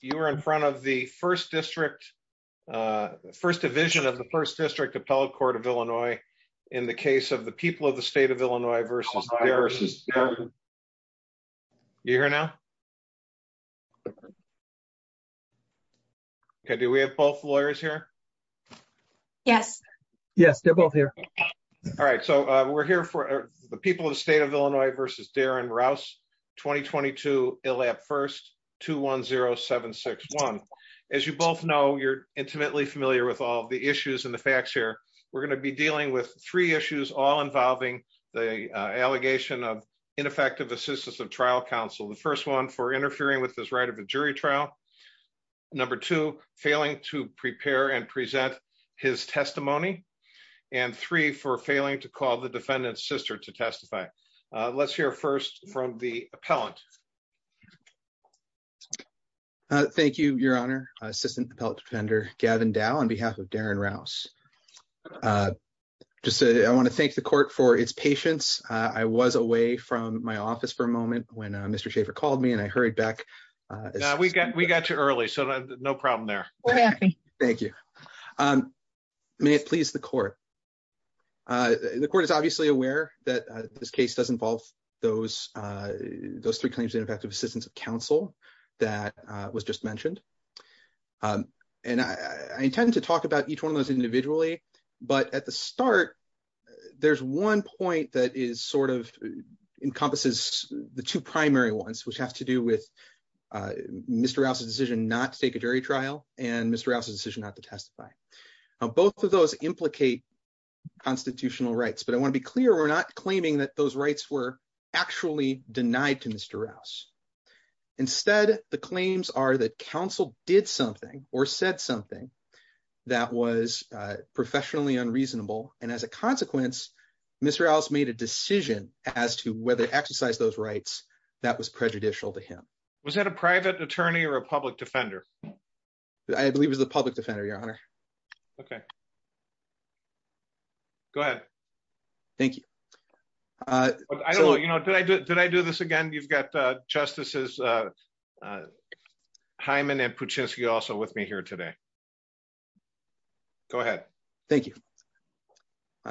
You were in front of the first district, uh, first division of the first district appellate court of Illinois in the case of the people of the state of Illinois versus you here now. Okay. Do we have both lawyers here? Yes. Yes. They're both here. All right. So we're here for the people of the state of Illinois versus Darren Rouse 2022 ill at first two one zero seven six one. As you both know, you're intimately familiar with all the issues and the facts here. We're going to be dealing with three issues, all involving the, uh, allegation of ineffective assistance of trial counsel. The first one for interfering with this right of a jury trial number two, failing to prepare and present his testimony and three for failing to call the defendant's sister to testify. Uh, let's hear first from the appellant. Uh, thank you, your honor, assistant appellate defender Gavin Dow on behalf of Darren Rouse. Uh, just to, I want to thank the court for its patience. Uh, I was away from my office for a moment when, uh, Mr. Schaffer called me and I hurried back. Uh, we got, we got too early, so no problem there. We're happy. Thank you. Um, may it please the court. Uh, the court is obviously aware that this case does involve those, uh, those three claims in effect of assistance of counsel that, uh, was just mentioned. Um, and I, I intend to talk about each one of those individually, but at the start, there's one point that is sort of encompasses the two primary ones, which has to do with, uh, Mr. Rouse's decision not to take a jury trial and Mr. Rouse's decision not to testify. Both of those implicate constitutional rights, but I want to be clear. We're not claiming that those rights were actually denied to Mr. Rouse. Instead, the claims are that counsel did something or said something that was professionally unreasonable. And as a consequence, Mr. Rouse made a decision as to whether to exercise those rights, that was prejudicial to him. Was that a private attorney or a public defender? I believe it was the public defender, your honor. Okay. Go ahead. Thank you. Uh, I don't know. You know, did I, did I do this again? You've got, uh, justices, uh, uh, Hyman and Puchinsky also with me here today. Go ahead. Thank you.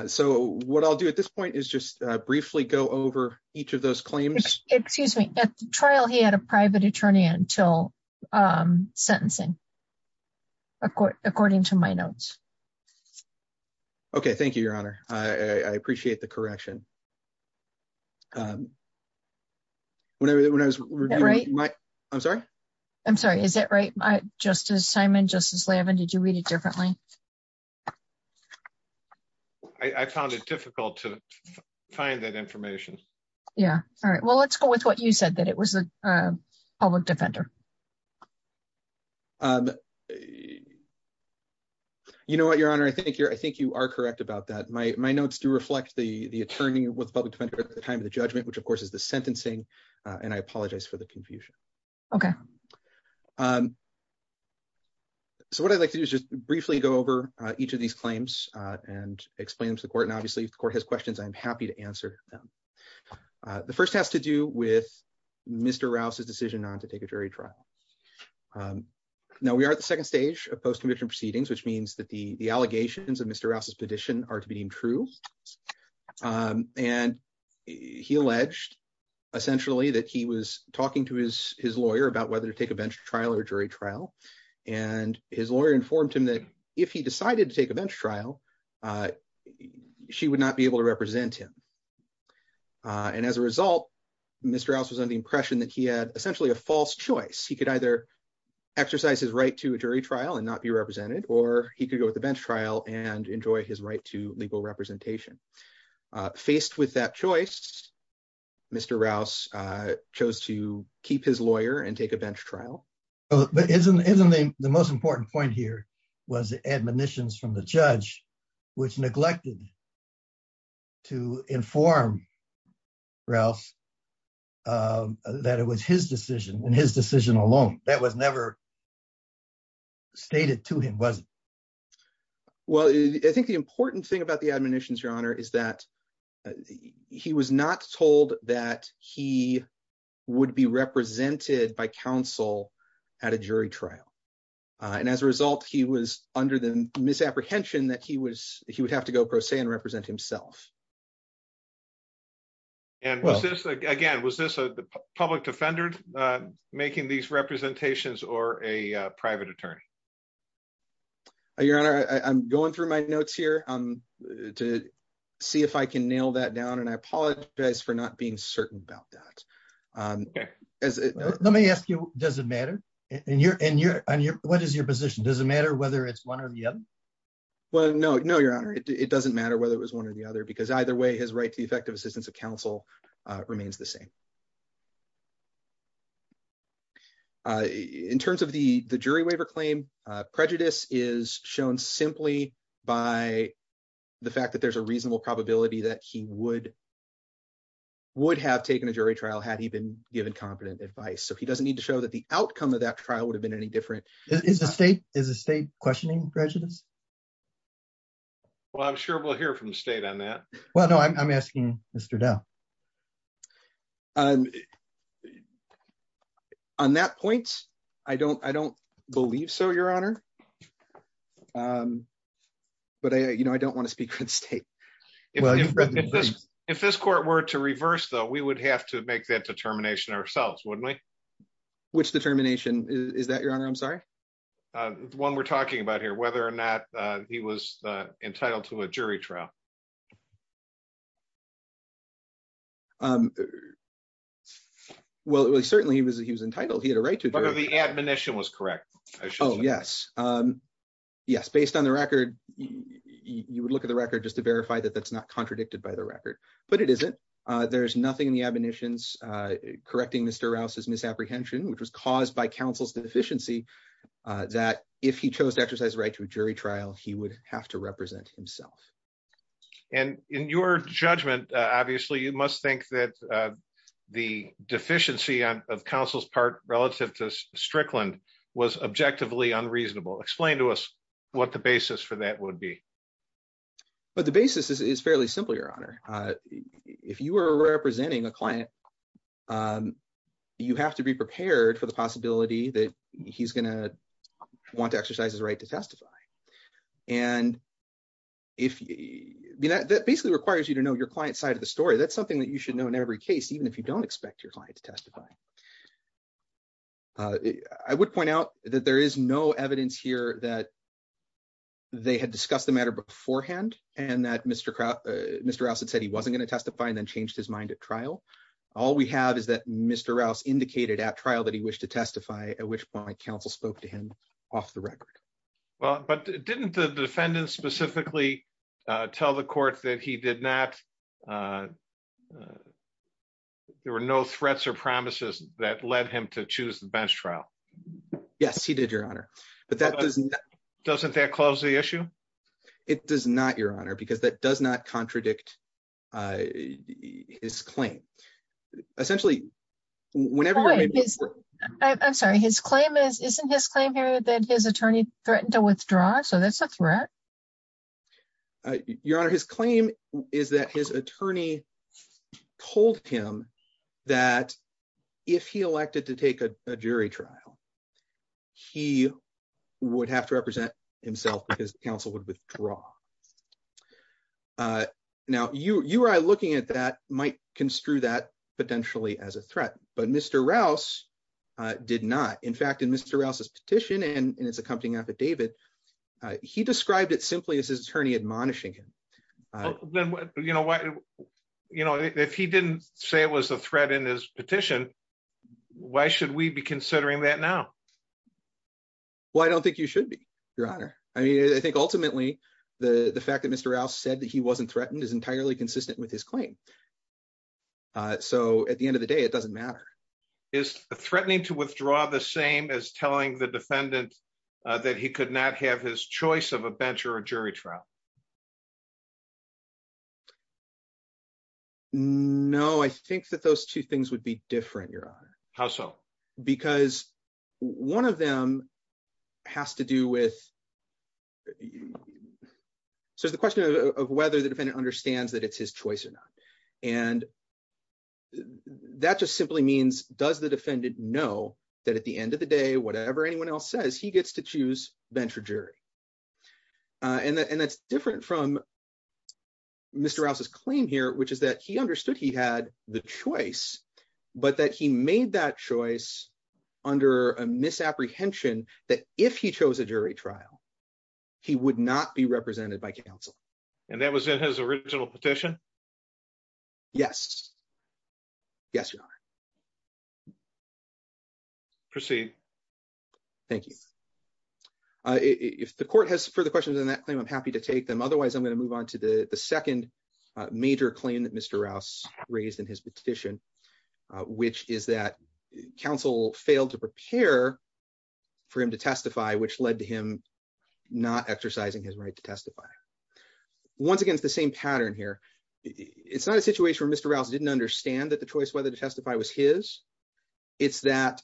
So what I'll do at this point is just briefly go over each of those claims. At the trial, he had a private attorney until, um, sentencing according to my notes. Okay. Thank you, your honor. I appreciate the correction. Whenever that, when I was right, I'm sorry. I'm sorry. Is that right? My justice, Simon, justice Lavin, did you read it differently? I found it difficult to find that information. Yeah. All right. Well, let's go with what you said that it was a public defender. You know what your honor, I think you're, I think you are correct about that. My, my notes do reflect the attorney with public defender at the time of the judgment, which of course is the sentencing. Uh, and I apologize for the confusion. Okay. Um, so what I'd like to do is just briefly go over each of these claims, uh, and explain them to the court. And obviously if the court has questions, I'm happy to answer them. Uh, the first has to do with Mr. Rouse's decision on to take a jury trial. Um, now we are at the second stage of post-conviction proceedings, which means that the, the allegations of Mr. Rouse's petition are to be deemed true. Um, and he alleged essentially that he was talking to his, his lawyer about whether to take a bench trial or jury trial. And his lawyer informed him that if he decided to take a bench trial, uh, she would not be able to represent him. Uh, and as a result, Mr. Rouse was under the impression that he had essentially a false choice. He could either exercise his right to a jury trial and not be represented, or he could go with the bench trial and enjoy his right to legal representation. Uh, faced with that choice, Mr. Rouse, uh, chose to keep his lawyer and take a bench trial. But isn't, isn't the most important point here was the admonitions from the judge, which neglected to inform Rouse, uh, that it was his decision and his decision alone that was never stated to him, wasn't it? Well, I think the important thing about the admonitions, your honor, is that he was not told that he would be represented by counsel at a jury trial. Uh, and as a result, he was under the misapprehension that he was, he would have to go pro se and represent himself. And was this again, was this a public defender, uh, making these representations or a private I apologize for not being certain about that. Um, let me ask you, does it matter in your, in your, on your, what is your position? Does it matter whether it's one or the other? Well, no, no, your honor, it doesn't matter whether it was one or the other, because either way his right to the effective assistance of counsel, uh, remains the same. Uh, in terms of the, the jury waiver claim, uh, prejudice is shown simply by the fact that there's a reasonable probability that he would, would have taken a jury trial had he been given competent advice. So he doesn't need to show that the outcome of that trial would have been any different. Is the state, is the state questioning prejudice? Well, I'm sure we'll hear from the state on that. Well, no, I'm, I'm asking Mr. Dell. Um, on that point, I don't, I don't believe so your honor. Um, but I, you know, I don't want to speak for the state. If this court were to reverse though, we would have to make that determination ourselves. Wouldn't we? Which determination is that your honor? I'm sorry. Uh, the one we're talking about here, whether or not, uh, he was, uh, entitled to a jury trial. Um, well, certainly he was, he was entitled. He had a right to the admonition was correct. Oh yes. Um, yes. Based on the record, you would look at the record just to verify that that's not contradicted by the record, but it isn't. Uh, there's nothing in the admonitions, uh, correcting Mr. Rouse's misapprehension, which was caused by counsel's deficiency, uh, that if he chose to exercise right to a jury trial, he would have to represent himself. And in your judgment, uh, obviously you must think that, uh, the deficiency of counsel's part relative to Strickland was objectively unreasonable. Explain to us what the basis for that would be. But the basis is fairly simple. Your honor, uh, if you were representing a client, um, you have to be prepared for the possibility that he's going to want to exercise his right to testify. And if that basically requires you to know your client's side of the story, that's something that you should know in every case, even if you don't expect your client to testify. Uh, I would point out that there is no evidence here that they had discussed the matter beforehand and that Mr. Kraut, uh, Mr. Rouse had said he wasn't going to testify and then changed his mind at trial. All we have is that Mr. Rouse indicated at trial that he wished to testify, at which point counsel spoke to him off the record. Well, but didn't the defendant specifically, uh, tell the court that he did not, uh, uh, there were no threats or promises that led him to choose the bench trial. Yes, he did your honor. But that doesn't, doesn't that close the issue? It does not your honor, because that does not contradict, uh, his claim essentially whenever I'm sorry, his claim is, isn't his claim here that his attorney threatened to withdraw. So that's a threat. Uh, your honor, his claim is that his attorney told him that if he elected to take a jury trial, he would have to represent himself because counsel would withdraw. Uh, now you, you are looking at that might construe that potentially as a threat, but Mr. Rouse, uh, did not. In fact, in Mr. Rouse's petition and in his accompanying affidavit, uh, he described it simply as his attorney admonishing him. You know what, you know, if he didn't say it was a threat in his petition, why should we be considering that now? Well, I don't think you should be your honor. I mean, I think ultimately the fact that Mr. Rouse said that he wasn't threatened is entirely consistent with his claim. Uh, so at the end of the day, it doesn't matter. Is threatening to withdraw the same as telling the defendant that he could not have his choice of a bench or a jury trial? No, I think that those two things would be different. Your honor. How so? Because one of them has to do with, so it's the question of whether the defendant understands that it's his choice or not. And that just simply means, does the defendant know that at the end of the day, whatever anyone else says, he gets to choose venture jury. Uh, and that, and that's different from Mr. Rouse's claim here, which is that he understood he had the choice, but that he made that choice under a misapprehension that if he chose a jury trial, he would not be represented by counsel. And that was in his original petition. Yes. Yes, your honor. Proceed. Thank you. Uh, if the court has further questions on that claim, I'm happy to take them. Otherwise I'm going to move on to the second major claim that Mr. Rouse raised in his petition, which is that counsel failed to prepare for him to testify, which led to him not exercising his right to testify. Once again, it's the same pattern here. It's not a situation where Mr. Rouse didn't understand that the choice, whether to testify was his it's that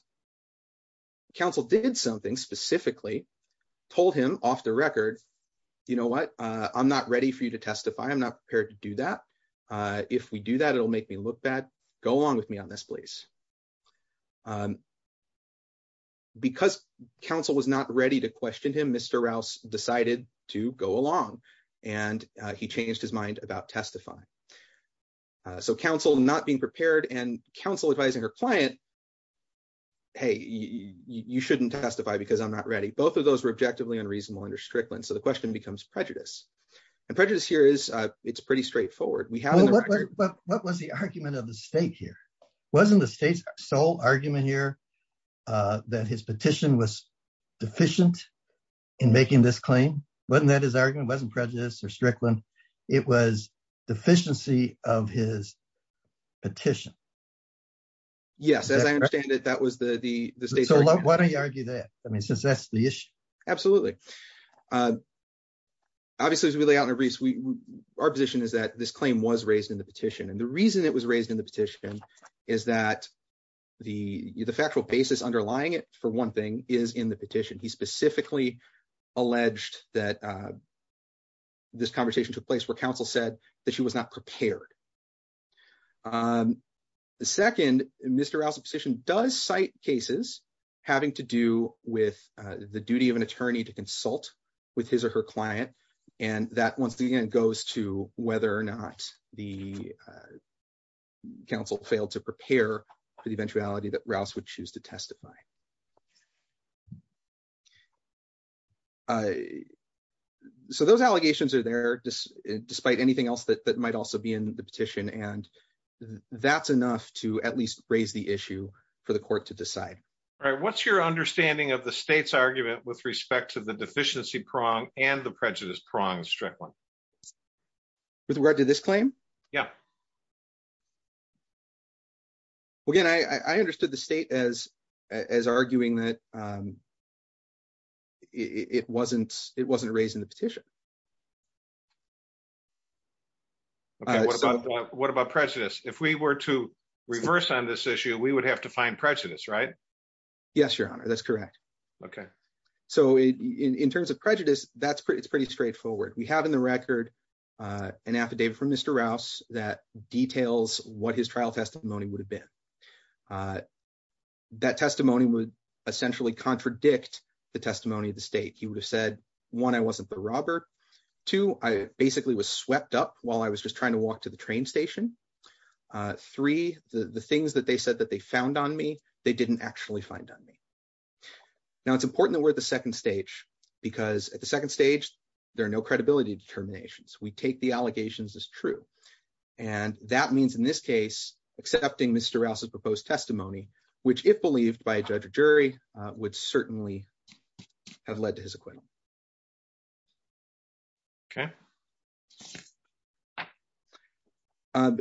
counsel did something specifically told him off the record. You know what? Uh, I'm not ready for you to testify. I'm not prepared to do that. Uh, if we do that, it'll make me look bad. Go along with me on this, please. Um, because counsel was not ready to question him, Mr. Rouse decided to go along and he changed his mind about testifying. Uh, so counsel not being prepared and counsel advising her client, Hey, you shouldn't testify because I'm not ready. Both of those were objectively unreasonable under Strickland. So the question becomes prejudice and prejudice here is, uh, it's pretty straightforward. We have, what was the argument of the state here? Wasn't the state's sole argument here, uh, that his petition was deficient in making this claim? Wasn't that his argument wasn't prejudice or Strickland. It was deficiency of his petition. Yes. As I understand it, that was the, the, the state. So why don't you argue that? I mean, as we lay out in our briefs, we, our position is that this claim was raised in the petition. And the reason it was raised in the petition is that the, the factual basis underlying it for one thing is in the petition. He specifically alleged that, uh, this conversation took place where counsel said that she was not prepared. Um, the second, Mr. Rouse's position does cite cases having to do with, uh, the duty of an attorney to consult with his or her client. And that once the end goes to whether or not the, uh, counsel failed to prepare for the eventuality that Rouse would choose to testify. Uh, so those allegations are there despite anything else that might also be in the petition. And that's enough to at least raise the issue for the court to decide. What's your understanding of the state's argument with respect to the deficiency prong and the prejudice prong in Strickland? With regard to this claim? Yeah. Well, again, I, I understood the state as, as arguing that, um, it wasn't, it wasn't raised in the petition. What about prejudice? If we were to reverse on this issue, we would have to find prejudice, right? Yes, your honor. That's correct. Okay. So in terms of prejudice, that's pretty, it's pretty straightforward. We have in the record, uh, an affidavit from Mr. Rouse that details what his trial testimony would have been. Uh, that testimony would essentially contradict the testimony of the state. He would have said, one, I wasn't the robber. Two, I basically was swept up while I was just trying to walk to the train station. Uh, three, the, the things that they found on me, they didn't actually find on me. Now it's important that we're at the second stage because at the second stage, there are no credibility determinations. We take the allegations as true. And that means in this case, accepting Mr. Rouse's proposed testimony, which if believed by a judge or jury, uh, would certainly have led to his acquittal. Okay. Um,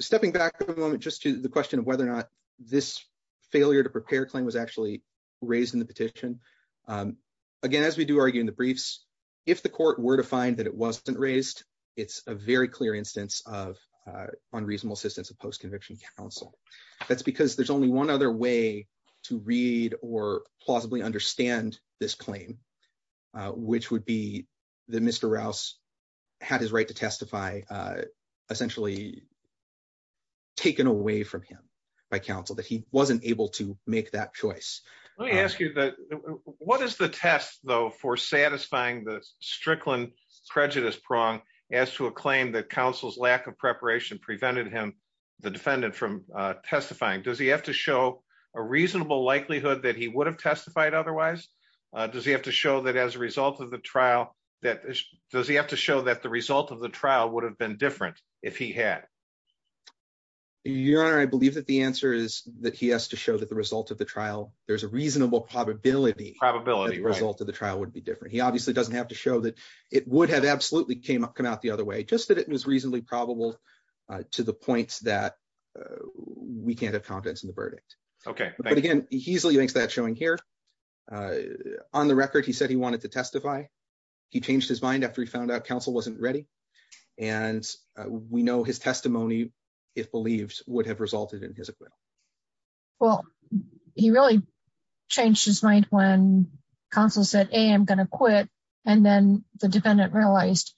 stepping back for a moment, just to the question of whether or not this failure to prepare claim was actually raised in the petition. Um, again, as we do argue in the briefs, if the court were to find that it wasn't raised, it's a very clear instance of, uh, unreasonable assistance of post-conviction counsel. That's because there's only one other way to read or plausibly understand this claim, uh, which would be the Mr. Rouse had his right to testify, uh, essentially taken away from him by counsel that he wasn't able to make that choice. Let me ask you that what is the test though, for satisfying the Strickland prejudice prong as to a claim that counsel's lack of preparation prevented him, the defendant from, uh, testifying. Does he have to that he would have testified otherwise? Uh, does he have to show that as a result of the trial that does he have to show that the result of the trial would have been different? If he had your honor, I believe that the answer is that he has to show that the result of the trial, there's a reasonable probability, probability result of the trial would be different. He obviously doesn't have to show that it would have absolutely came up, come out the other way, just that it was reasonably probable, uh, to the points that, uh, we can't have confidence in the here. Uh, on the record, he said he wanted to testify. He changed his mind after he found out counsel wasn't ready. And we know his testimony, if believed would have resulted in his acquittal. Well, he really changed his mind when counsel said, Hey, I'm going to quit. And then the dependent realized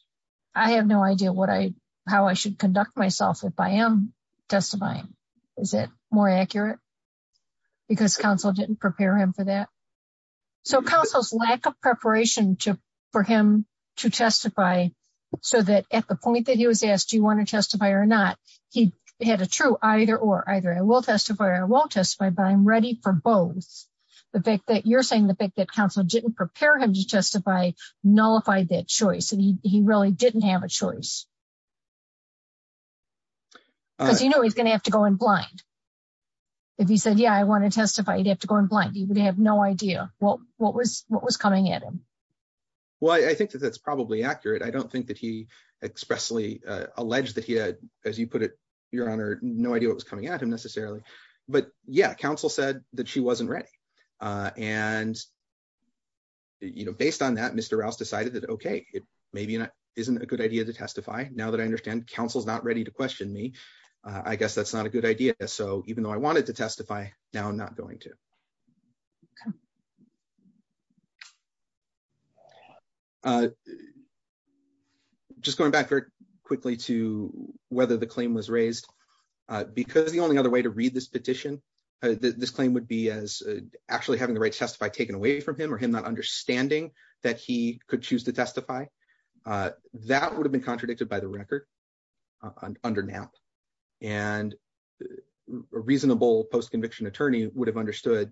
I have no idea what I, how I should conduct myself. If I am testifying, is it more accurate because counsel didn't prepare him for that? So counsel's lack of preparation to, for him to testify. So that at the point that he was asked, do you want to testify or not? He had a true either or either. I will testify. I won't testify, but I'm ready for both the fact that you're saying the fact that counsel didn't prepare him to testify, nullified that choice. And he really didn't have a choice because, you know, he's going to have to go in blind. If he said, yeah, I want to testify, you'd have to go in blind. He would have no idea what, what was, what was coming at him. Well, I think that that's probably accurate. I don't think that he expressly, uh, alleged that he had, as you put it, your honor, no idea what was coming at him necessarily. But yeah, counsel said that she wasn't ready. Uh, and you know, based on that, Mr. Rouse decided that, okay, it may be not, isn't a good idea to testify. Now that I understand council's not ready to question me, uh, I guess that's not a good idea. So even though I wanted to testify now, I'm not going to, okay. Uh, just going back very quickly to whether the claim was raised, uh, because the only other way to read this petition, this claim would be as actually having the right to testify taken away from him or him, not understanding that he could choose to testify, uh, that would have been contradicted by the record, uh, under now. And a reasonable post-conviction attorney would have understood,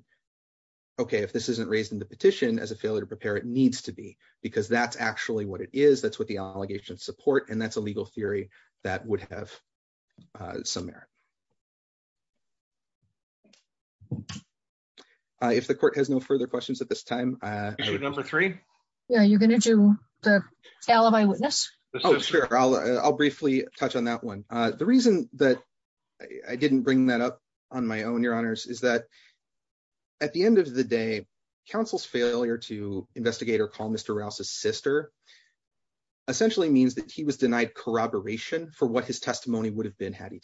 okay, if this isn't raised in the petition as a failure to prepare, it needs to be because that's actually what it is. That's what the allegations support. And that's a legal at this time. Uh, number three. Yeah. You're going to do the tale of eyewitness. Oh, sure. I'll, I'll briefly touch on that one. Uh, the reason that I didn't bring that up on my own, your honors is that at the end of the day, counsel's failure to investigate or call Mr. Rouse's sister essentially means that he was denied corroboration for what his testimony would have been. Had he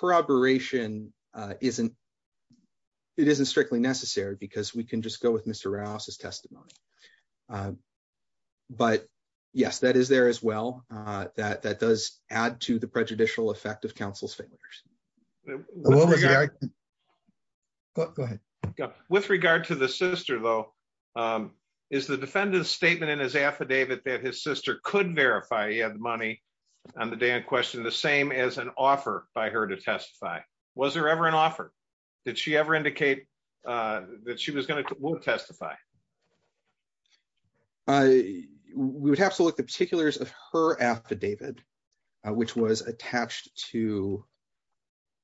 corroboration, uh, isn't, it isn't strictly necessary because we can just go with Mr. Rouse's testimony. Um, but yes, that is there as well. Uh, that, that does add to the prejudicial effect of counsel's failures. Go ahead. With regard to the sister though, um, is the defendant's statement in his affidavit that his sister could verify he had the money on the day in question, the same as an offer by her to testify. Was there ever an offer that she ever indicate, uh, that she was going to testify? Uh, we would have to look at the particulars of her affidavit, uh, which was attached to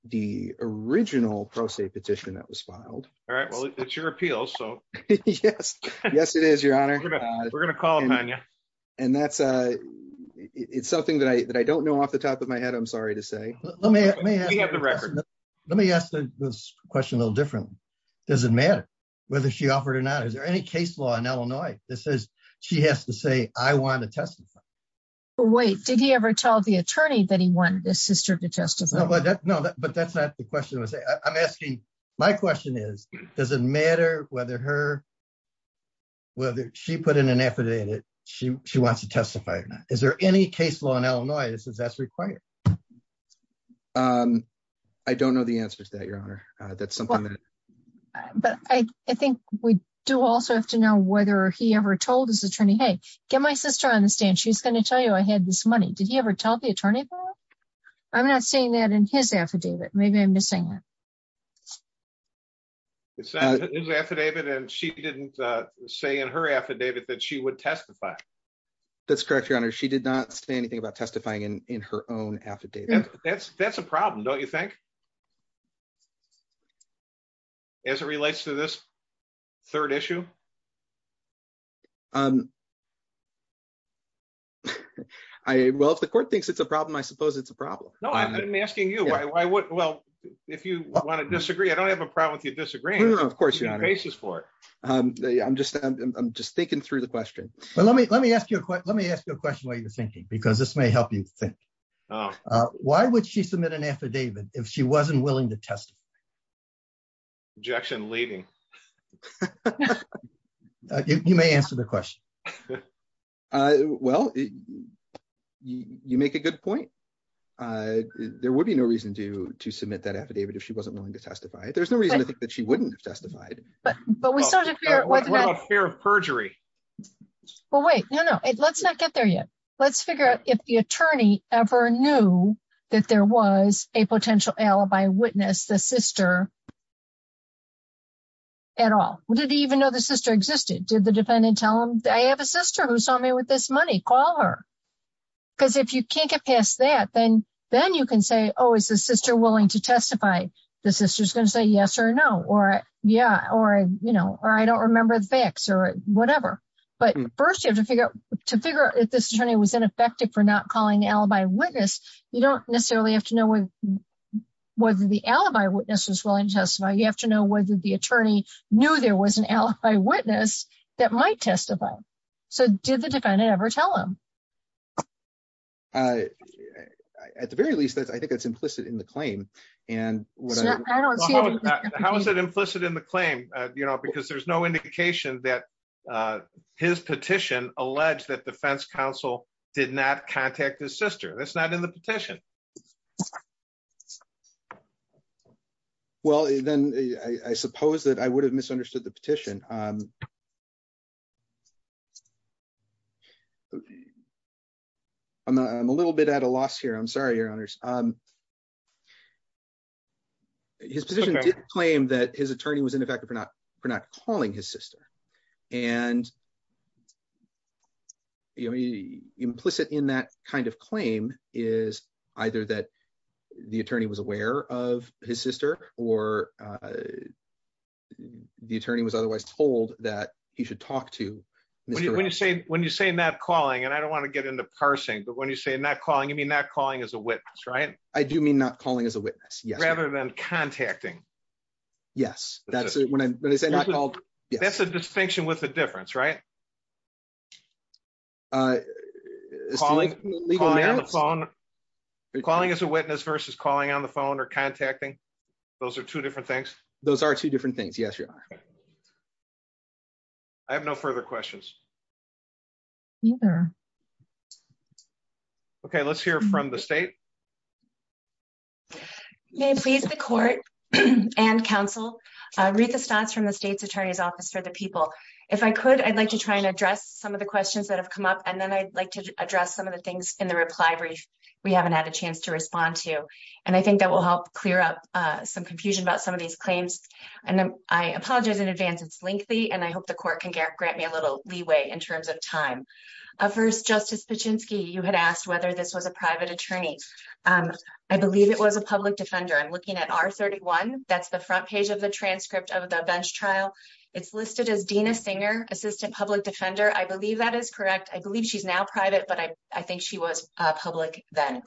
the original pro se petition that was filed. All right. Well, it's your appeal. So yes, yes, it is your honor. We're going to call them on you. And that's, uh, it's something that I, that I don't know off the top of my head. I'm sorry to say, let me ask this question a little differently. Does it matter whether she offered or not? Is there any case law in Illinois that says she has to say, I want to testify. Wait, did he ever tell the attorney that he wanted his sister to testify? No, but that's not the question I'm asking. My question is, does it matter whether her, whether she put in an affidavit, she, she wants to testify or not? Is there any case law in Illinois that says that's required? Um, I don't know the answer to that, your honor. Uh, that's something that, but I, I think we do also have to know whether he ever told his attorney, Hey, get my sister on the stand. She's going to tell you I had this money. Did he ever tell the attorney? I'm not seeing that in his affidavit. Maybe I'm missing it. It's an affidavit. And she didn't say in her affidavit that she would testify. That's correct. Your honor. She did not say anything about testifying in, in her own affidavit. That's, that's a problem. Don't you think as it relates to this third issue? Um, I, well, if the court thinks it's a problem, I suppose it's a problem. No, I'm asking you why, why would, well, if you want to disagree, I don't have a problem with you disagreeing. Of course. I'm just, I'm just thinking through the question. Let me, let me ask you a question. Let me ask you a question while you're thinking, because this may help you think, Oh, why would she submit an affidavit if she wasn't willing to testify? Objection leading. You may answer the question. Uh, well, you make a good point. Uh, there would be no reason to, to submit that affidavit. If she wasn't willing to testify, there's no reason to think that she wouldn't have testified, but we sort of fear of perjury. Well, wait, no, no. Let's not get there yet. Let's figure out if the attorney ever knew that there was a potential alibi witness, the sister at all. Did he even know the sister existed? Did the dependent tell him that I have a sister who with this money, call her. Cause if you can't get past that, then, then you can say, Oh, is the sister willing to testify? The sister's going to say yes or no, or yeah. Or, you know, or I don't remember the facts or whatever, but first you have to figure out to figure out if this attorney was ineffective for not calling alibi witness. You don't necessarily have to know whether the alibi witness was willing to testify. You have to know whether the attorney knew there was an alibi witness that might testify. So did the defendant ever tell him? At the very least, I think that's implicit in the claim. How is that implicit in the claim? You know, because there's no indication that his petition alleged that defense counsel did not contact his sister. That's not in the petition. Well, then I suppose that I would have misunderstood the petition. I'm a little bit at a loss here. I'm sorry, your honors. His position did claim that his attorney was ineffective for not, for not calling his sister and implicit in that kind of claim is either that the attorney was aware of his sister or the attorney was otherwise told that he should talk to. When you say not calling, and I don't want to get into parsing, but when you say not calling, you mean not calling as a witness, right? I do mean not calling as a witness. Yes. Yes. That's a distinction with a difference, right? Calling as a witness versus calling on the phone or contacting. Those are two different things. Those are two different things. Yes, your honor. I have no further questions. Neither. Okay, let's hear from the state. May please the court and counsel read the stats from the state's attorney's office for the people. If I could, I'd like to try and address some of the questions that have come up, and then I'd like to address some of the things in the reply brief. We haven't had a chance to respond to, and I think that will help clear up some confusion about some of these claims. And I apologize in advance. It's lengthy, and I hope the court can grant me a little leeway in terms of time. First, Justice Paczynski, you had asked whether this was a private attorney. I believe it was a public defender. I'm looking at R31. That's the front page of the transcript of the bench trial. It's listed as Dina Singer, assistant public defender. I believe that is correct. I believe she's now private, but I think she was public then.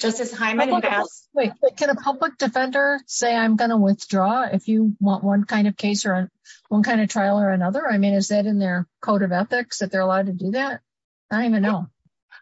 Justice Hyman. Can a public defender say I'm going to withdraw if you want one kind of case or one kind of trial or another? I mean, is that in their code of ethics that they're allowed to do that? I don't even know.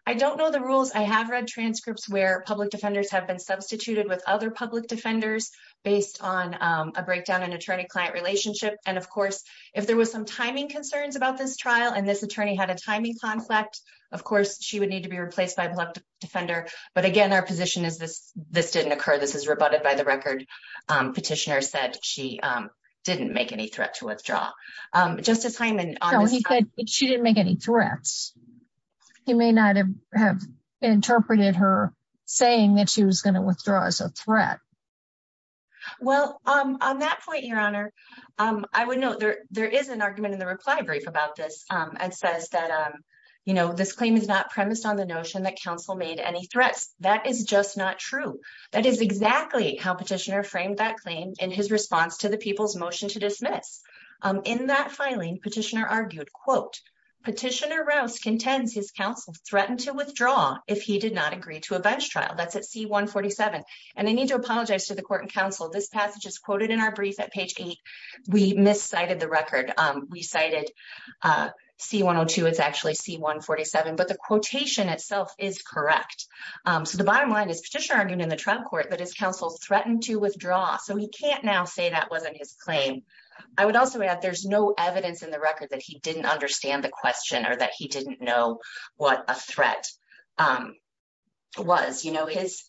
I don't know the rules. I have read transcripts where public defenders have been substituted with other public defenders based on a breakdown in attorney-client relationship. And of course, if there was some timing concerns about this trial and this attorney had a timing conflict, of course, she would need to be replaced by a public defender. But again, our position is this didn't occur. This is rebutted by the record. Petitioner said she didn't make any threat to withdraw. Justice Hyman. She didn't make any threats. He may not have interpreted her saying that she was going to withdraw as a threat. Well, on that point, Your Honor, I would note there is an argument in the reply brief about this and says that, you know, this claim is not premised on the notion that counsel made any threats. That is just not true. That is exactly how petitioner framed that claim in his response to the people's motion to dismiss. In that filing, petitioner argued, quote, Petitioner Rouse contends his counsel threatened to withdraw if he did not agree to a bench trial. That's at C-147. And I need to apologize to the court and counsel. This passage is quoted in our brief at page eight. We miscited the record. We cited C-102. It's actually C-147. But the quotation itself is correct. So the bottom line is petitioner argued in the trial court that his counsel threatened to withdraw. So he can't now say that wasn't his claim. I would also add there's no evidence in the record that he didn't understand the question or that he didn't know what a threat was. You know, his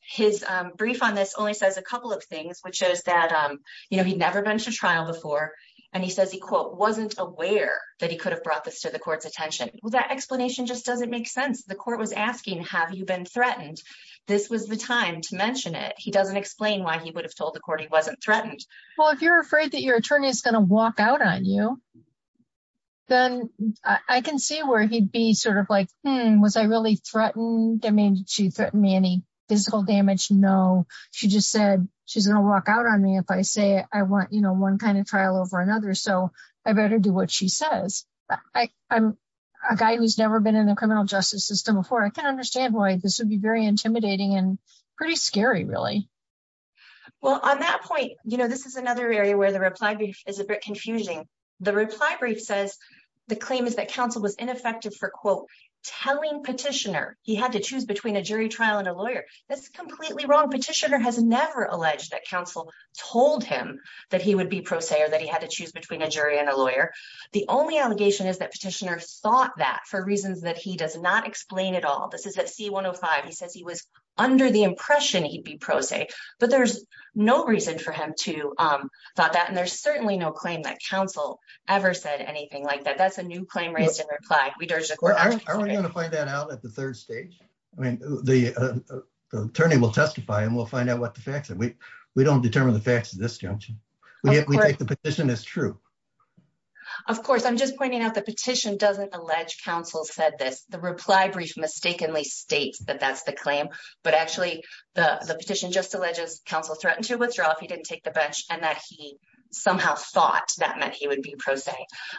brief on this only says a couple of things, which is that, you know, he'd never been to trial before. And he says he, quote, wasn't aware that he could have brought this to the court's attention. Well, that explanation just doesn't make sense. The court was asking, have you been threatened? This was the time to mention it. He doesn't explain why he would have told the court he wasn't threatened. Well, if you're afraid that your attorney is going to walk out on you, then I can see where he'd be sort of like, was I really threatened? I mean, she threatened me any physical damage? No, she just said she's going to walk out on me if I say I want, you know, one kind of trial over another. So I better do what she says. I'm a guy who's been in the criminal justice system before. I can understand why this would be very intimidating and pretty scary, really. Well, on that point, you know, this is another area where the reply brief is a bit confusing. The reply brief says the claim is that counsel was ineffective for, quote, telling petitioner he had to choose between a jury trial and a lawyer. That's completely wrong. Petitioner has never alleged that counsel told him that he would be pro se or that he had to thought that for reasons that he does not explain at all. This is at C-105. He says he was under the impression he'd be pro se, but there's no reason for him to thought that. And there's certainly no claim that counsel ever said anything like that. That's a new claim raised in reply. Aren't we going to find that out at the third stage? I mean, the attorney will testify and we'll find out what the facts are. We don't determine the facts at this juncture. We take true. Of course, I'm just pointing out the petition doesn't allege counsel said this. The reply brief mistakenly states that that's the claim, but actually the petition just alleges counsel threatened to withdraw if he didn't take the bench and that he somehow thought that meant he would be pro se.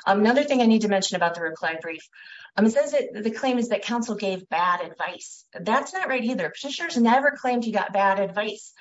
Another thing I need to mention about the reply brief, it says the claim is that counsel gave bad advice. That's not right either. Petitioners never claimed he got bad advice.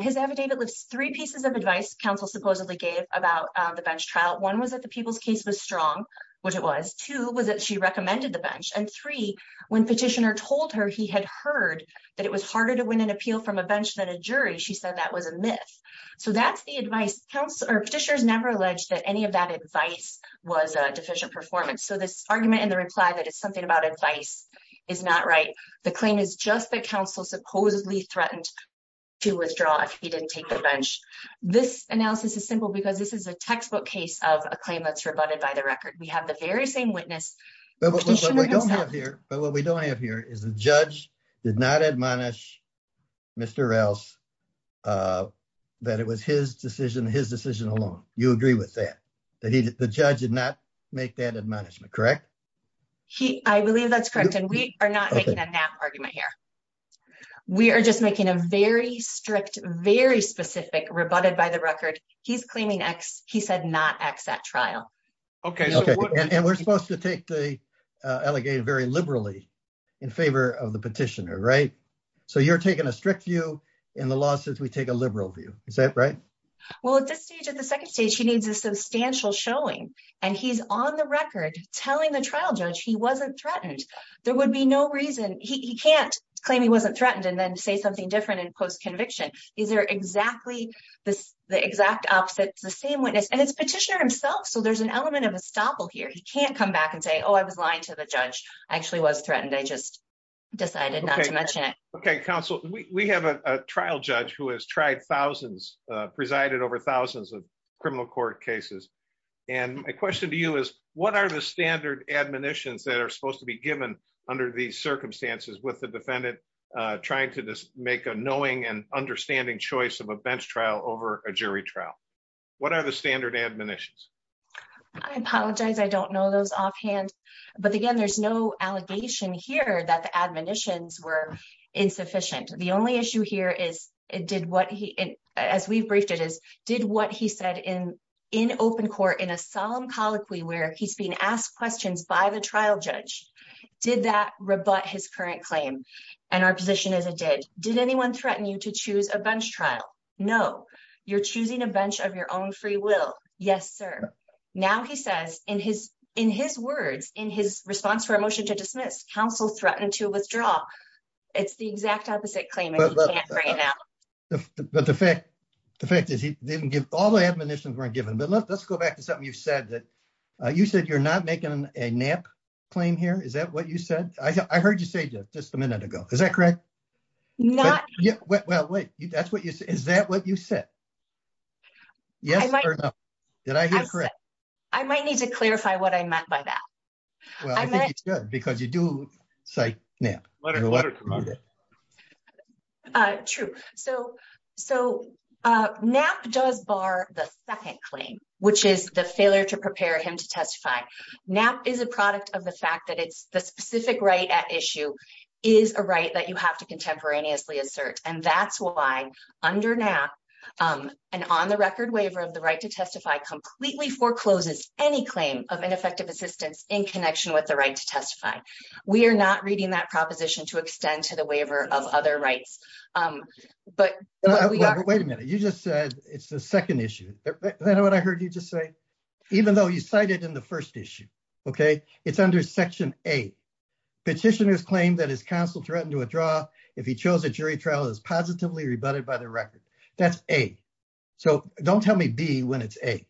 His affidavit lists three pieces of advice counsel supposedly gave about the bench trial. One was that the people's case was strong, which it was. Two was that she recommended the bench. And three, when petitioner told her he had heard that it was harder to win an appeal from a bench than a jury, she said that was a myth. So that's the advice. Petitioners never alleged that any of that advice was a deficient performance. So this argument in the reply that it's something about advice is not right. The claim is just that counsel supposedly threatened to withdraw if he didn't take the bench. This analysis is simple because this is a textbook case of a claim that's rebutted by the record. We have the very same witness. But what we don't have here is the judge did not admonish Mr. Rouse that it was his decision, his decision alone. You agree with that? The judge did not make that admonishment, correct? I believe that's correct. And we are not making a nap argument here. We are just making a very strict, very specific rebutted by the record. He's claiming X. He said not X at trial. Okay. And we're supposed to take the allegation very liberally in favor of the petitioner, right? So you're taking a strict view in the law since we take a liberal view. Is that right? Well, at this stage, at the second stage, he needs a substantial showing. And he's on the record telling the trial judge he wasn't threatened. There would be no reason. He can't claim he wasn't threatened and then say something different in post-conviction. These are exactly the exact opposite. It's the same witness. And it's petitioner himself. So there's an element of estoppel here. He can't come back and say, oh, I was lying to the judge. I actually was threatened. I just decided not to mention it. Okay. Counsel, we have a trial judge who has tried thousands, presided over thousands of criminal court cases. And my question to you is what are the standard admonitions that are supposed to be given under these circumstances with the defendant trying to make a knowing and understanding choice of a bench trial over a jury trial? What are the standard admonitions? I apologize. I don't know those offhand, but again, there's no allegation here that the admonitions were insufficient. The only issue here is it did what he, as we've briefed it is, did what he said in open court in a solemn colloquy where he's being asked questions by the trial judge. Did that rebut his current claim? And our position is it did. Did anyone threaten you to choose a bench trial? No. You're choosing a bench of your own free will. Yes, sir. Now, he says in his words, in his response to our motion to dismiss, counsel threatened to withdraw. It's the exact opposite claim. But the fact, the fact is he didn't give all the admonitions weren't given. But let's go back to something you've said that you said you're not making a nap claim here. Is that what you said? I heard you say just a minute ago. Is that correct? Not yet. Well, wait, that's what you say. Is that what you said? Yes or no? I might need to let her come under. True. So NAP does bar the second claim, which is the failure to prepare him to testify. NAP is a product of the fact that it's the specific right at issue is a right that you have to contemporaneously assert. And that's why under NAP, an on the record waiver of the right to testify completely forecloses any claim of ineffective assistance in connection with the right to testify. We are not reading that proposition to extend to the waiver of other rights. But wait a minute. You just said it's the second issue. What I heard you just say, even though you cited in the first issue, OK, it's under Section A petitioners claim that his counsel threatened to withdraw if he chose a jury trial is positively rebutted by the record. That's A. So don't tell me B when it's A.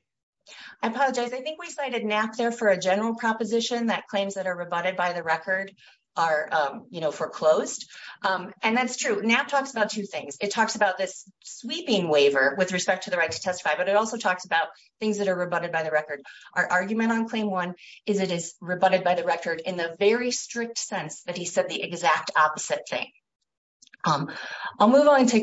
I apologize. I think we cited NAP there for a proposition that claims that are rebutted by the record are foreclosed. And that's true. NAP talks about two things. It talks about this sweeping waiver with respect to the right to testify, but it also talks about things that are rebutted by the record. Our argument on claim one is it is rebutted by the record in the very strict sense that he said the exact opposite thing. I'll move on to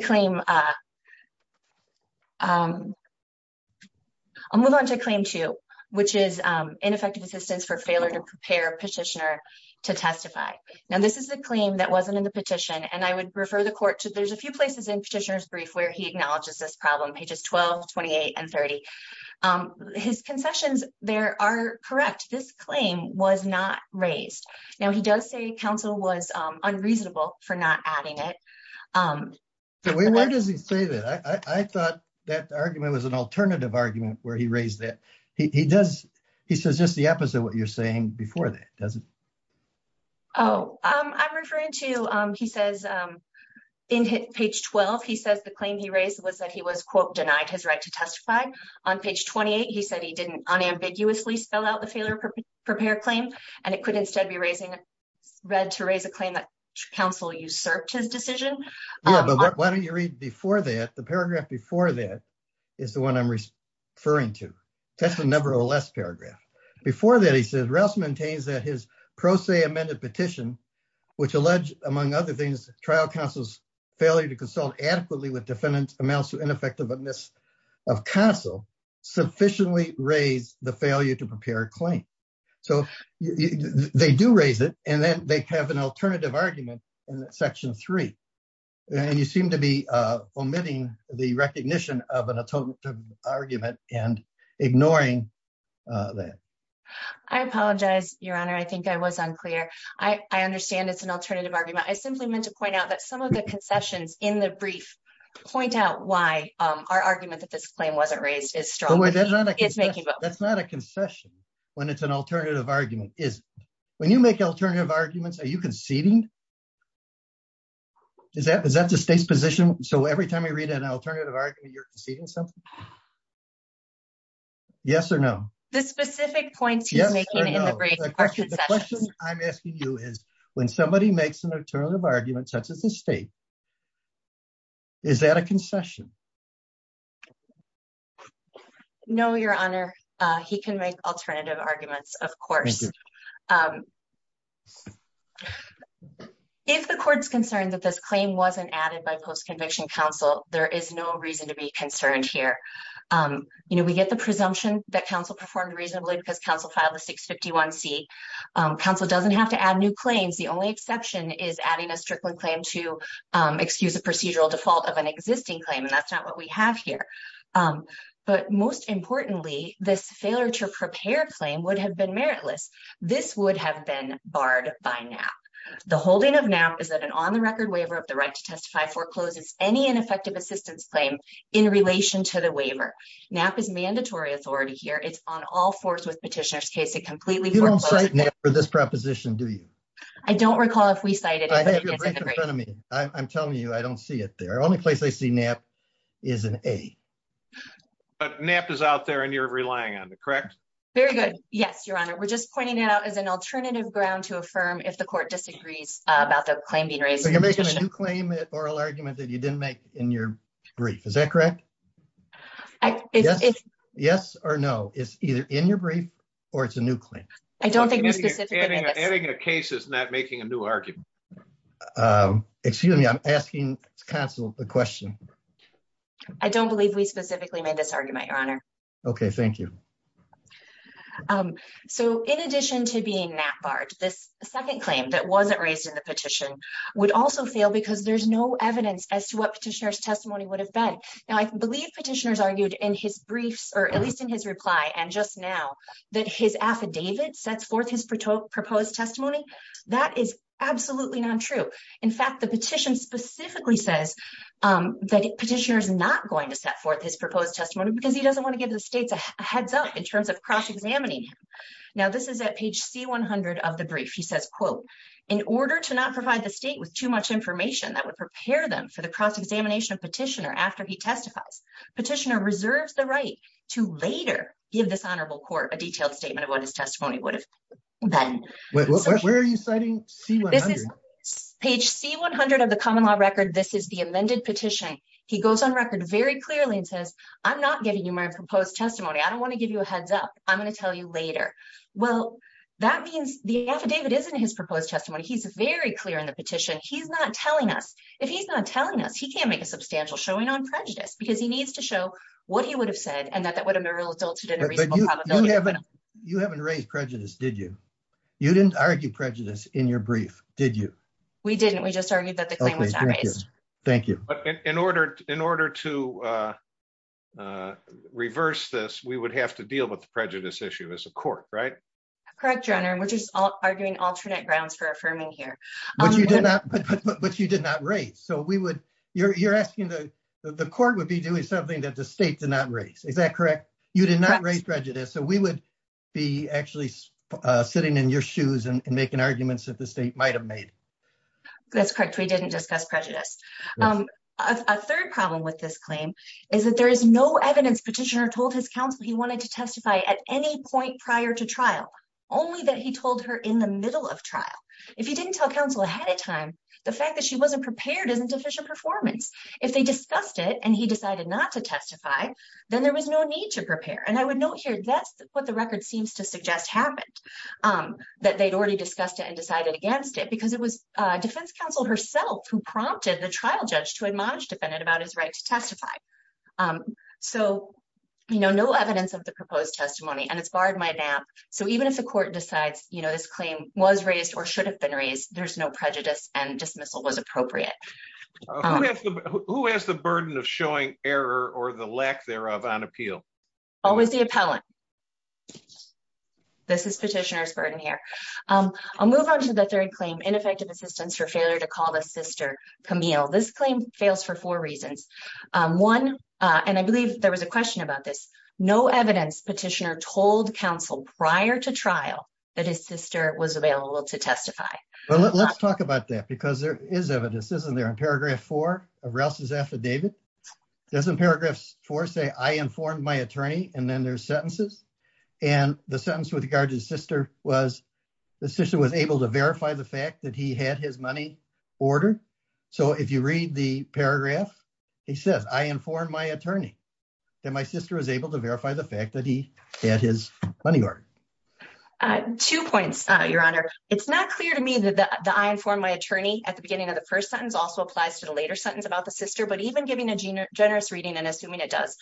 claim two, which is ineffective assistance for failure to prepare a petitioner to testify. Now, this is a claim that wasn't in the petition. And I would refer the court to there's a few places in petitioner's brief where he acknowledges this problem, pages 12, 28, and 30. His concessions there are correct. This claim was not raised. Now, he does say counsel was unambiguously wrong. He said he didn't unambiguously spell out the failure to prepare a claim. And it could instead be read to raise a claim that counsel usurped his decision. Yeah, but why don't you read before that? The paragraph before that is the one I'm referring to. That's the number or less paragraph. Before that, he says, Rouse maintains that his pro se amended petition, which alleged, among other things, trial counsel's failure to consult adequately with defendant amounts to ineffective of counsel, sufficiently raised the failure to they do raise it, and then they have an alternative argument in section three. And you seem to be omitting the recognition of an atonement argument and ignoring that. I apologize, Your Honor, I think I was unclear. I understand it's an alternative argument. I simply meant to point out that some of the concessions in the brief point out why our argument that this claim wasn't raised is strong. It's making that's not a concession. When it's an alternative argument is when you make alternative arguments, are you conceding? Is that is that the state's position? So every time I read an alternative argument, you're conceding something? Yes or no? The specific points? Yes. I'm asking you is when somebody makes an alternative argument, such as the state. Is that a concession? No, Your Honor, he can make alternative arguments, of course. If the court's concerned that this claim wasn't added by post-conviction counsel, there is no reason to be concerned here. You know, we get the presumption that counsel performed reasonably because counsel filed a 651c. Counsel doesn't have to add new claims. The only exception is adding a Strickland claim to excuse a procedural default of an we have here. But most importantly, this failure to prepare claim would have been meritless. This would have been barred by now. The holding of now is that an on the record waiver of the right to testify forecloses any ineffective assistance claim in relation to the waiver. NAP is mandatory authority here. It's on all fours with petitioners case. It completely for this proposition, do you? I don't recall if we cited in front of me. I'm telling you, I don't see it there. Only place I see NAP is an A. But NAP is out there and you're relying on the correct. Very good. Yes, Your Honor. We're just pointing it out as an alternative ground to affirm if the court disagrees about the claim being raised. So you're making a new claim at oral argument that you didn't make in your brief. Is that correct? Yes or no. It's either in your brief or it's a new claim. I don't think adding a case is not making a new argument. Um, excuse me, I'm asking counsel the question. I don't believe we specifically made this argument, Your Honor. Okay, thank you. Um, so in addition to being NAP barred, this second claim that wasn't raised in the petition would also fail because there's no evidence as to what petitioners testimony would have been. Now, I believe petitioners argued in his briefs or at least in his reply and just now that his affidavit sets forth his proposed testimony. That is absolutely not true. In fact, the petition specifically says that petitioner is not going to set forth his proposed testimony because he doesn't want to give the states a heads up in terms of cross-examining him. Now, this is at page C100 of the brief. He says, quote, in order to not provide the state with too much information that would prepare them for the cross-examination of petitioner after he testifies, petitioner reserves the right to later give this honorable court a detailed statement of what his testimony would have been. Where are you citing C100? This is page C100 of the common law record. This is the amended petition. He goes on record very clearly and says, I'm not giving you my proposed testimony. I don't want to give you a heads up. I'm going to tell you later. Well, that means the affidavit isn't his proposed testimony. He's very clear in the petition. He's not telling us. If he's not telling us, he can't make a substantial showing on prejudice because he needs to show what he would have said and that that would have been real adulterated. You haven't raised prejudice, did you? You didn't argue prejudice in your brief, did you? We didn't. We just argued that the claim was not raised. Thank you. In order to reverse this, we would have to deal with the prejudice issue as a court, right? Correct, your honor. We're just arguing alternate grounds for affirming here. But you did not raise. So you're asking the court would be doing something that the state did not raise. Is that correct? You did not raise prejudice. So we would be actually sitting in your shoes and making arguments that the state might have made. That's correct. We didn't discuss prejudice. A third problem with this claim is that there is no evidence petitioner told his counsel he wanted to testify at any point prior to trial, only that he told her in the middle of trial. If he didn't tell counsel ahead of time, the fact that she wasn't prepared isn't official performance. If they discussed it and he decided not to testify, then there was no need to prepare. And I would note here, that's what the record seems to suggest happened, that they'd already discussed it and decided against it, because it was defense counsel herself who prompted the trial judge to admonish defendant about his right to testify. So, you know, no evidence of the proposed testimony and it's barred by NAP. So even if the court decides, you know, this claim was raised or should have been raised, there's no prejudice and dismissal was appropriate. Who has the burden of showing error or the lack thereof on appeal? Always the appellant. This is petitioner's burden here. I'll move on to the third claim, ineffective assistance for failure to call the sister Camille. This claim fails for four reasons. One, and I believe there was a question about this, no evidence petitioner told counsel prior to trial that his sister was available to testify. Well, let's talk about that because there is evidence, isn't there, in paragraph four of Rouse's affidavit, doesn't paragraphs four say I informed my attorney and then there's sentences and the sentence with regard to his sister was the sister was able to verify the fact that he had his money order. So if you read the paragraph, he says, I informed my attorney that my sister was able to verify the fact that he had his money order. Two points, your honor. It's not clear to me that the I informed my attorney at the beginning of the first sentence also applies to the later sentence about the sister. But even giving a generous reading and assuming it does,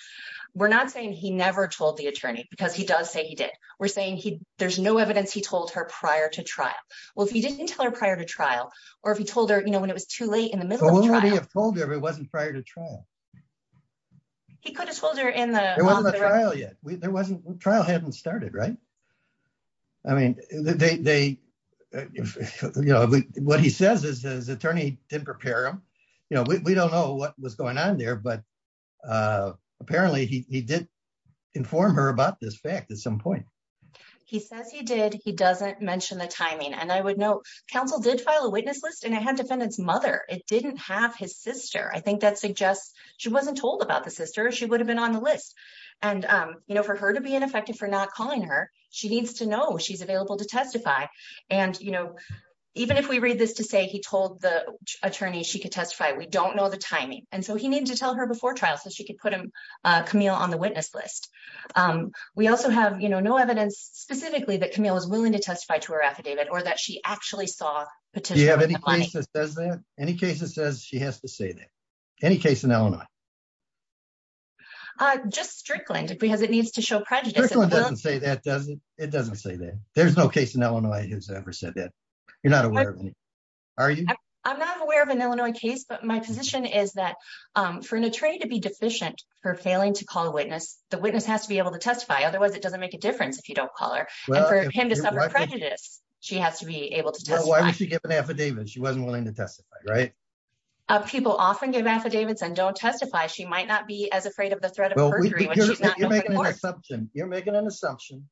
we're not saying he never told the attorney because he does say he did. We're saying there's no evidence he told her prior to trial. Well, if he didn't tell her prior to trial or if he told her, you know, when it was too late in the middle of the trial. He could have told her if it wasn't prior to trial. He could have told her in the trial yet. There wasn't trial hadn't started, right? I mean, they, you know, what he says is his attorney didn't prepare him. You know, we don't know what was going on there, but apparently he did inform her about this fact at some point. He says he did. He doesn't mention the timing and I would know. Counsel did file a witness list and I had defendants mother. It didn't have his sister. I think that suggests she wasn't told about the sister. She would have been on the list and for her to be ineffective for not calling her. She needs to know she's available to testify. And, you know, even if we read this to say he told the attorney, she could testify. We don't know the timing. And so he needed to tell her before trial so she could put him Camille on the witness list. We also have no evidence specifically that Camille is willing to testify to her affidavit or that she actually saw. Do you have any case that says that any in Illinois? Just Strickland because it needs to show prejudice. It doesn't say that there's no case in Illinois who's ever said that you're not aware of any. Are you? I'm not aware of an Illinois case, but my position is that for an attorney to be deficient for failing to call a witness, the witness has to be able to testify. Otherwise it doesn't make a difference if you don't call her and for him to suffer prejudice, she has to be able to testify. Why would she don't testify? She might not be as afraid of the threat of you're making an assumption.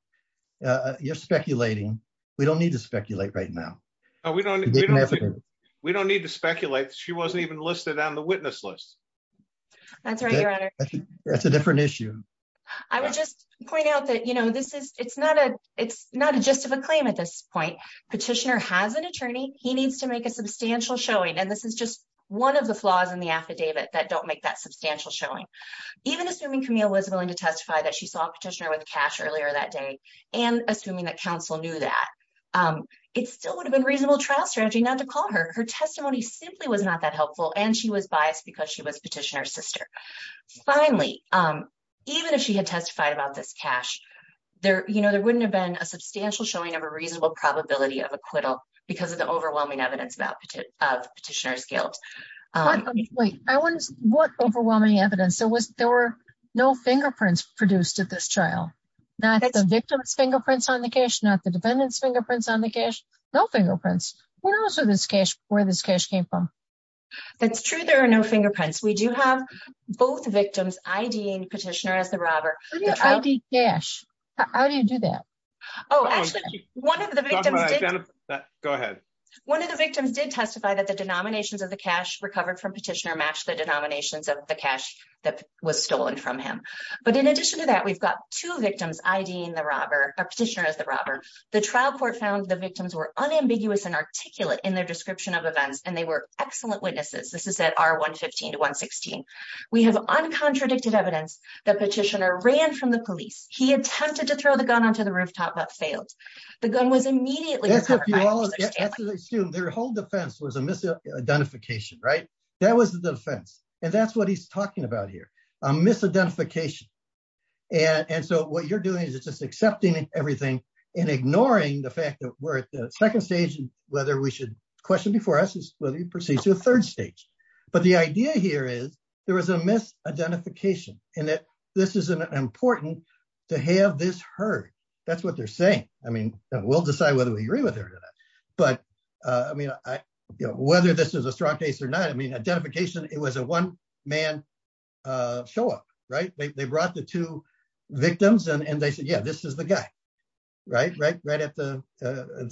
You're speculating. We don't need to speculate right now. We don't. We don't need to speculate. She wasn't even listed on the witness list. That's right. That's a different issue. I would just point out that, you know, this is it's not a it's not a just of a claim at this point. Petitioner has an attorney. He needs to make a substantial showing. And this is just one of the flaws in the affidavit that don't make that substantial showing. Even assuming Camille was willing to testify that she saw a petitioner with cash earlier that day, and assuming that counsel knew that, it still would have been reasonable trial strategy not to call her. Her testimony simply was not that helpful. And she was biased because she was petitioner's sister. Finally, even if she had testified about this cash, there, you know, there wouldn't have been a substantial showing of a reasonable probability of acquittal because of overwhelming evidence about petitioner's guilt. What overwhelming evidence? There were no fingerprints produced at this trial. Not the victim's fingerprints on the cash, not the defendant's fingerprints on the cash. No fingerprints. Who knows where this cash came from? That's true. There are no fingerprints. We do have both victims IDing petitioner as the robber. How do you do that? Oh, actually, one of the victims. Go ahead. One of the victims did testify that the denominations of the cash recovered from petitioner matched the denominations of the cash that was stolen from him. But in addition to that, we've got two victims IDing the robber, petitioner as the robber. The trial court found the victims were unambiguous and articulate in their description of events, and they were excellent witnesses. This is at R115 to 116. We have uncontradicted evidence that petitioner ran from the police. He attempted to throw the gun onto the rooftop but failed. The gun was immediately recovered by Petitioner Stanley. Their whole defense was a misidentification, right? That was the defense. And that's what he's talking about here, a misidentification. And so what you're doing is just accepting everything and ignoring the fact that we're at the second stage and whether we should question before us whether we proceed to the third stage. But the idea here is there was a misidentification and that this is important to have this heard. That's what they're saying. I mean, we'll decide whether we agree with her or not. But I mean, whether this is a strong case or not, I mean, identification, it was a one-man show-up, right? They brought the two victims and they said, yeah, this is the guy, right? Right at the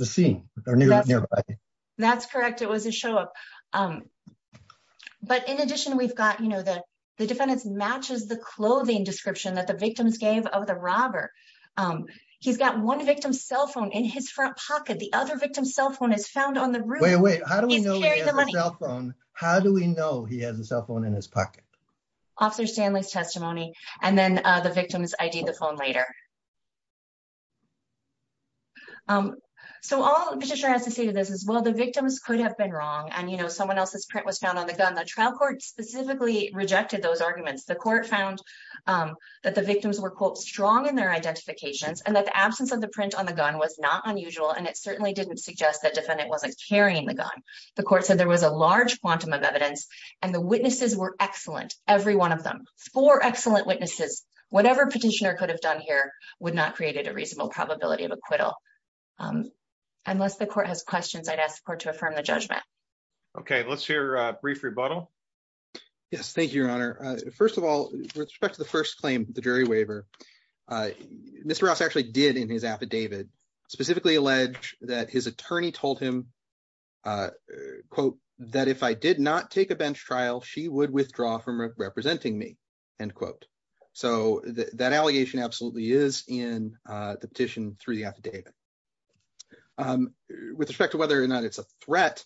scene or nearby. That's correct. It was a show-up. But in addition, we've got the defendants matches the clothing description that the victims gave of the robber. He's got one victim's cell phone in his front pocket. The other victim's cell phone is found on the room. Wait, wait. How do we know he has a cell phone? How do we know he has a cell phone in his pocket? Officer Stanley's testimony and then the victim's ID, the phone later. So all Petitioner has to say to this is, well, the victims could have been wrong. And, you know, someone else's print was found on the gun. The trial court specifically rejected those arguments. The court found that the victims were quote, strong in their identifications and that the absence of the print on the gun was not unusual. And it certainly didn't suggest that defendant wasn't carrying the gun. The court said there was a large quantum of evidence and the witnesses were excellent. Every one of them, four excellent witnesses, whatever Petitioner could have done here would not create a reasonable probability of acquittal. Unless the court has questions, I'd ask the court to affirm the judgment. Okay. Let's hear a brief rebuttal. Yes, thank you, Your Honor. First of all, with respect to the first claim, the jury waiver, Mr. Ross actually did in his affidavit specifically allege that his attorney told him quote, that if I did not take a bench trial, she would withdraw from representing me, end quote. So that allegation absolutely is in the petition through the affidavit. With respect to whether or not it's a threat,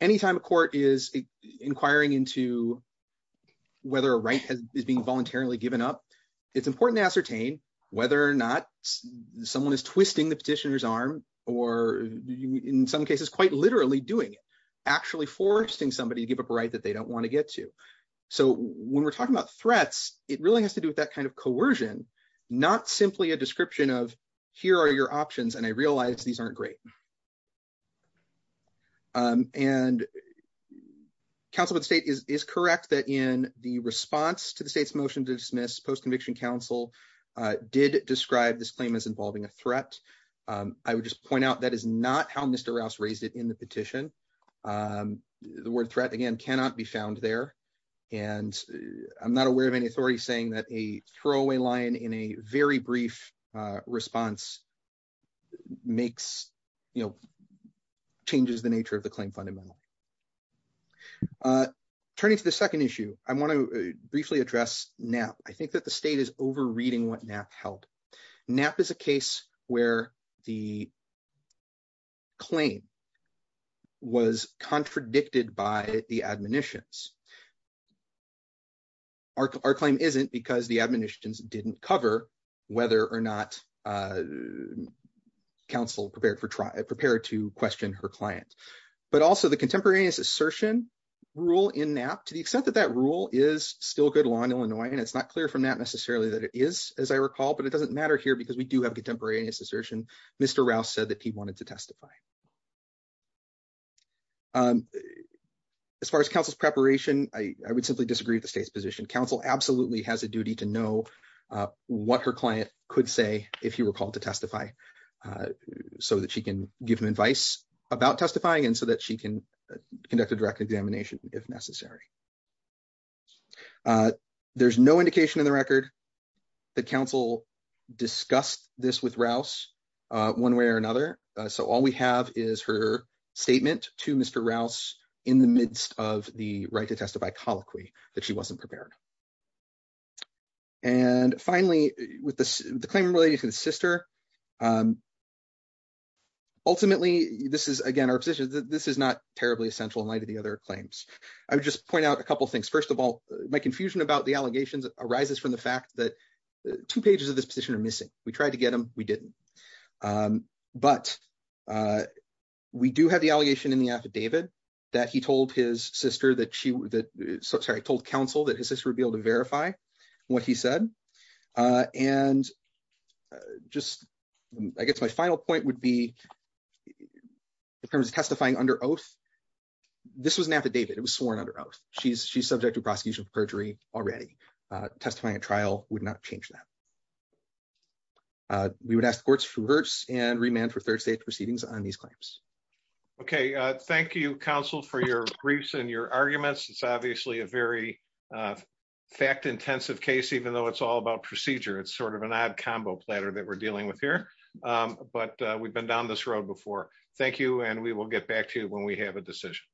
anytime a court is inquiring into whether a right is being voluntarily given up, it's important to ascertain whether or not someone is twisting the petitioner's arm, or in some cases, quite literally doing it, actually forcing somebody to give up a right that they don't want to get to. So when we're talking about threats, it really has to do with that kind of coercion, not simply a description of here are your options, and I realize these aren't great. And counsel of the state is correct that in the response to the state's motion to dismiss, post-conviction counsel did describe this claim as involving a threat. I would just point out that is not how Mr. Ross raised it in the petition. The word threat, again, cannot be found there. And I'm not aware of any authority saying that a throwaway line in a very brief response changes the nature of the claim fundamentally. Turning to the second issue, I want to briefly address NAP. I think that the state is overreading what NAP held. NAP is a case where the claim was contradicted by the admonitions. Our claim isn't because the admonitions didn't cover whether or not counsel prepared to question her client. But also, the contemporaneous assertion rule in NAP, to the extent that that rule is still good law in Illinois, and it's not clear from NAP necessarily that it is, as I recall, but it doesn't matter here because we do have contemporaneous assertion. Mr. Rouse said that he wanted to simply disagree with the state's position. Counsel absolutely has a duty to know what her client could say if he were called to testify so that she can give him advice about testifying and so that she can conduct a direct examination if necessary. There's no indication in the record that counsel discussed this with Rouse one way or another. So we have is her statement to Mr. Rouse in the midst of the right to testify colloquy that she wasn't prepared. Finally, with the claim related to the sister, ultimately, this is not terribly essential in light of the other claims. I would just point out a couple things. First of all, my confusion about the allegations arises from the fact that two pages of this position are missing. We tried to get them. We didn't. But we do have the allegation in the affidavit that he told his sister that she told counsel that his sister would be able to verify what he said. And just, I guess my final point would be in terms of testifying under oath. This was an affidavit. It was sworn under oath. She's subject to prosecution for perjury already. Testifying trial would not change that. We would ask the courts for words and remand for third state proceedings on these claims. Okay. Thank you, counsel, for your briefs and your arguments. It's obviously a very fact intensive case, even though it's all about procedure. It's sort of an odd combo platter that we're dealing with here. But we've been down this road before. Thank you. And we will get back to you when we have a decision.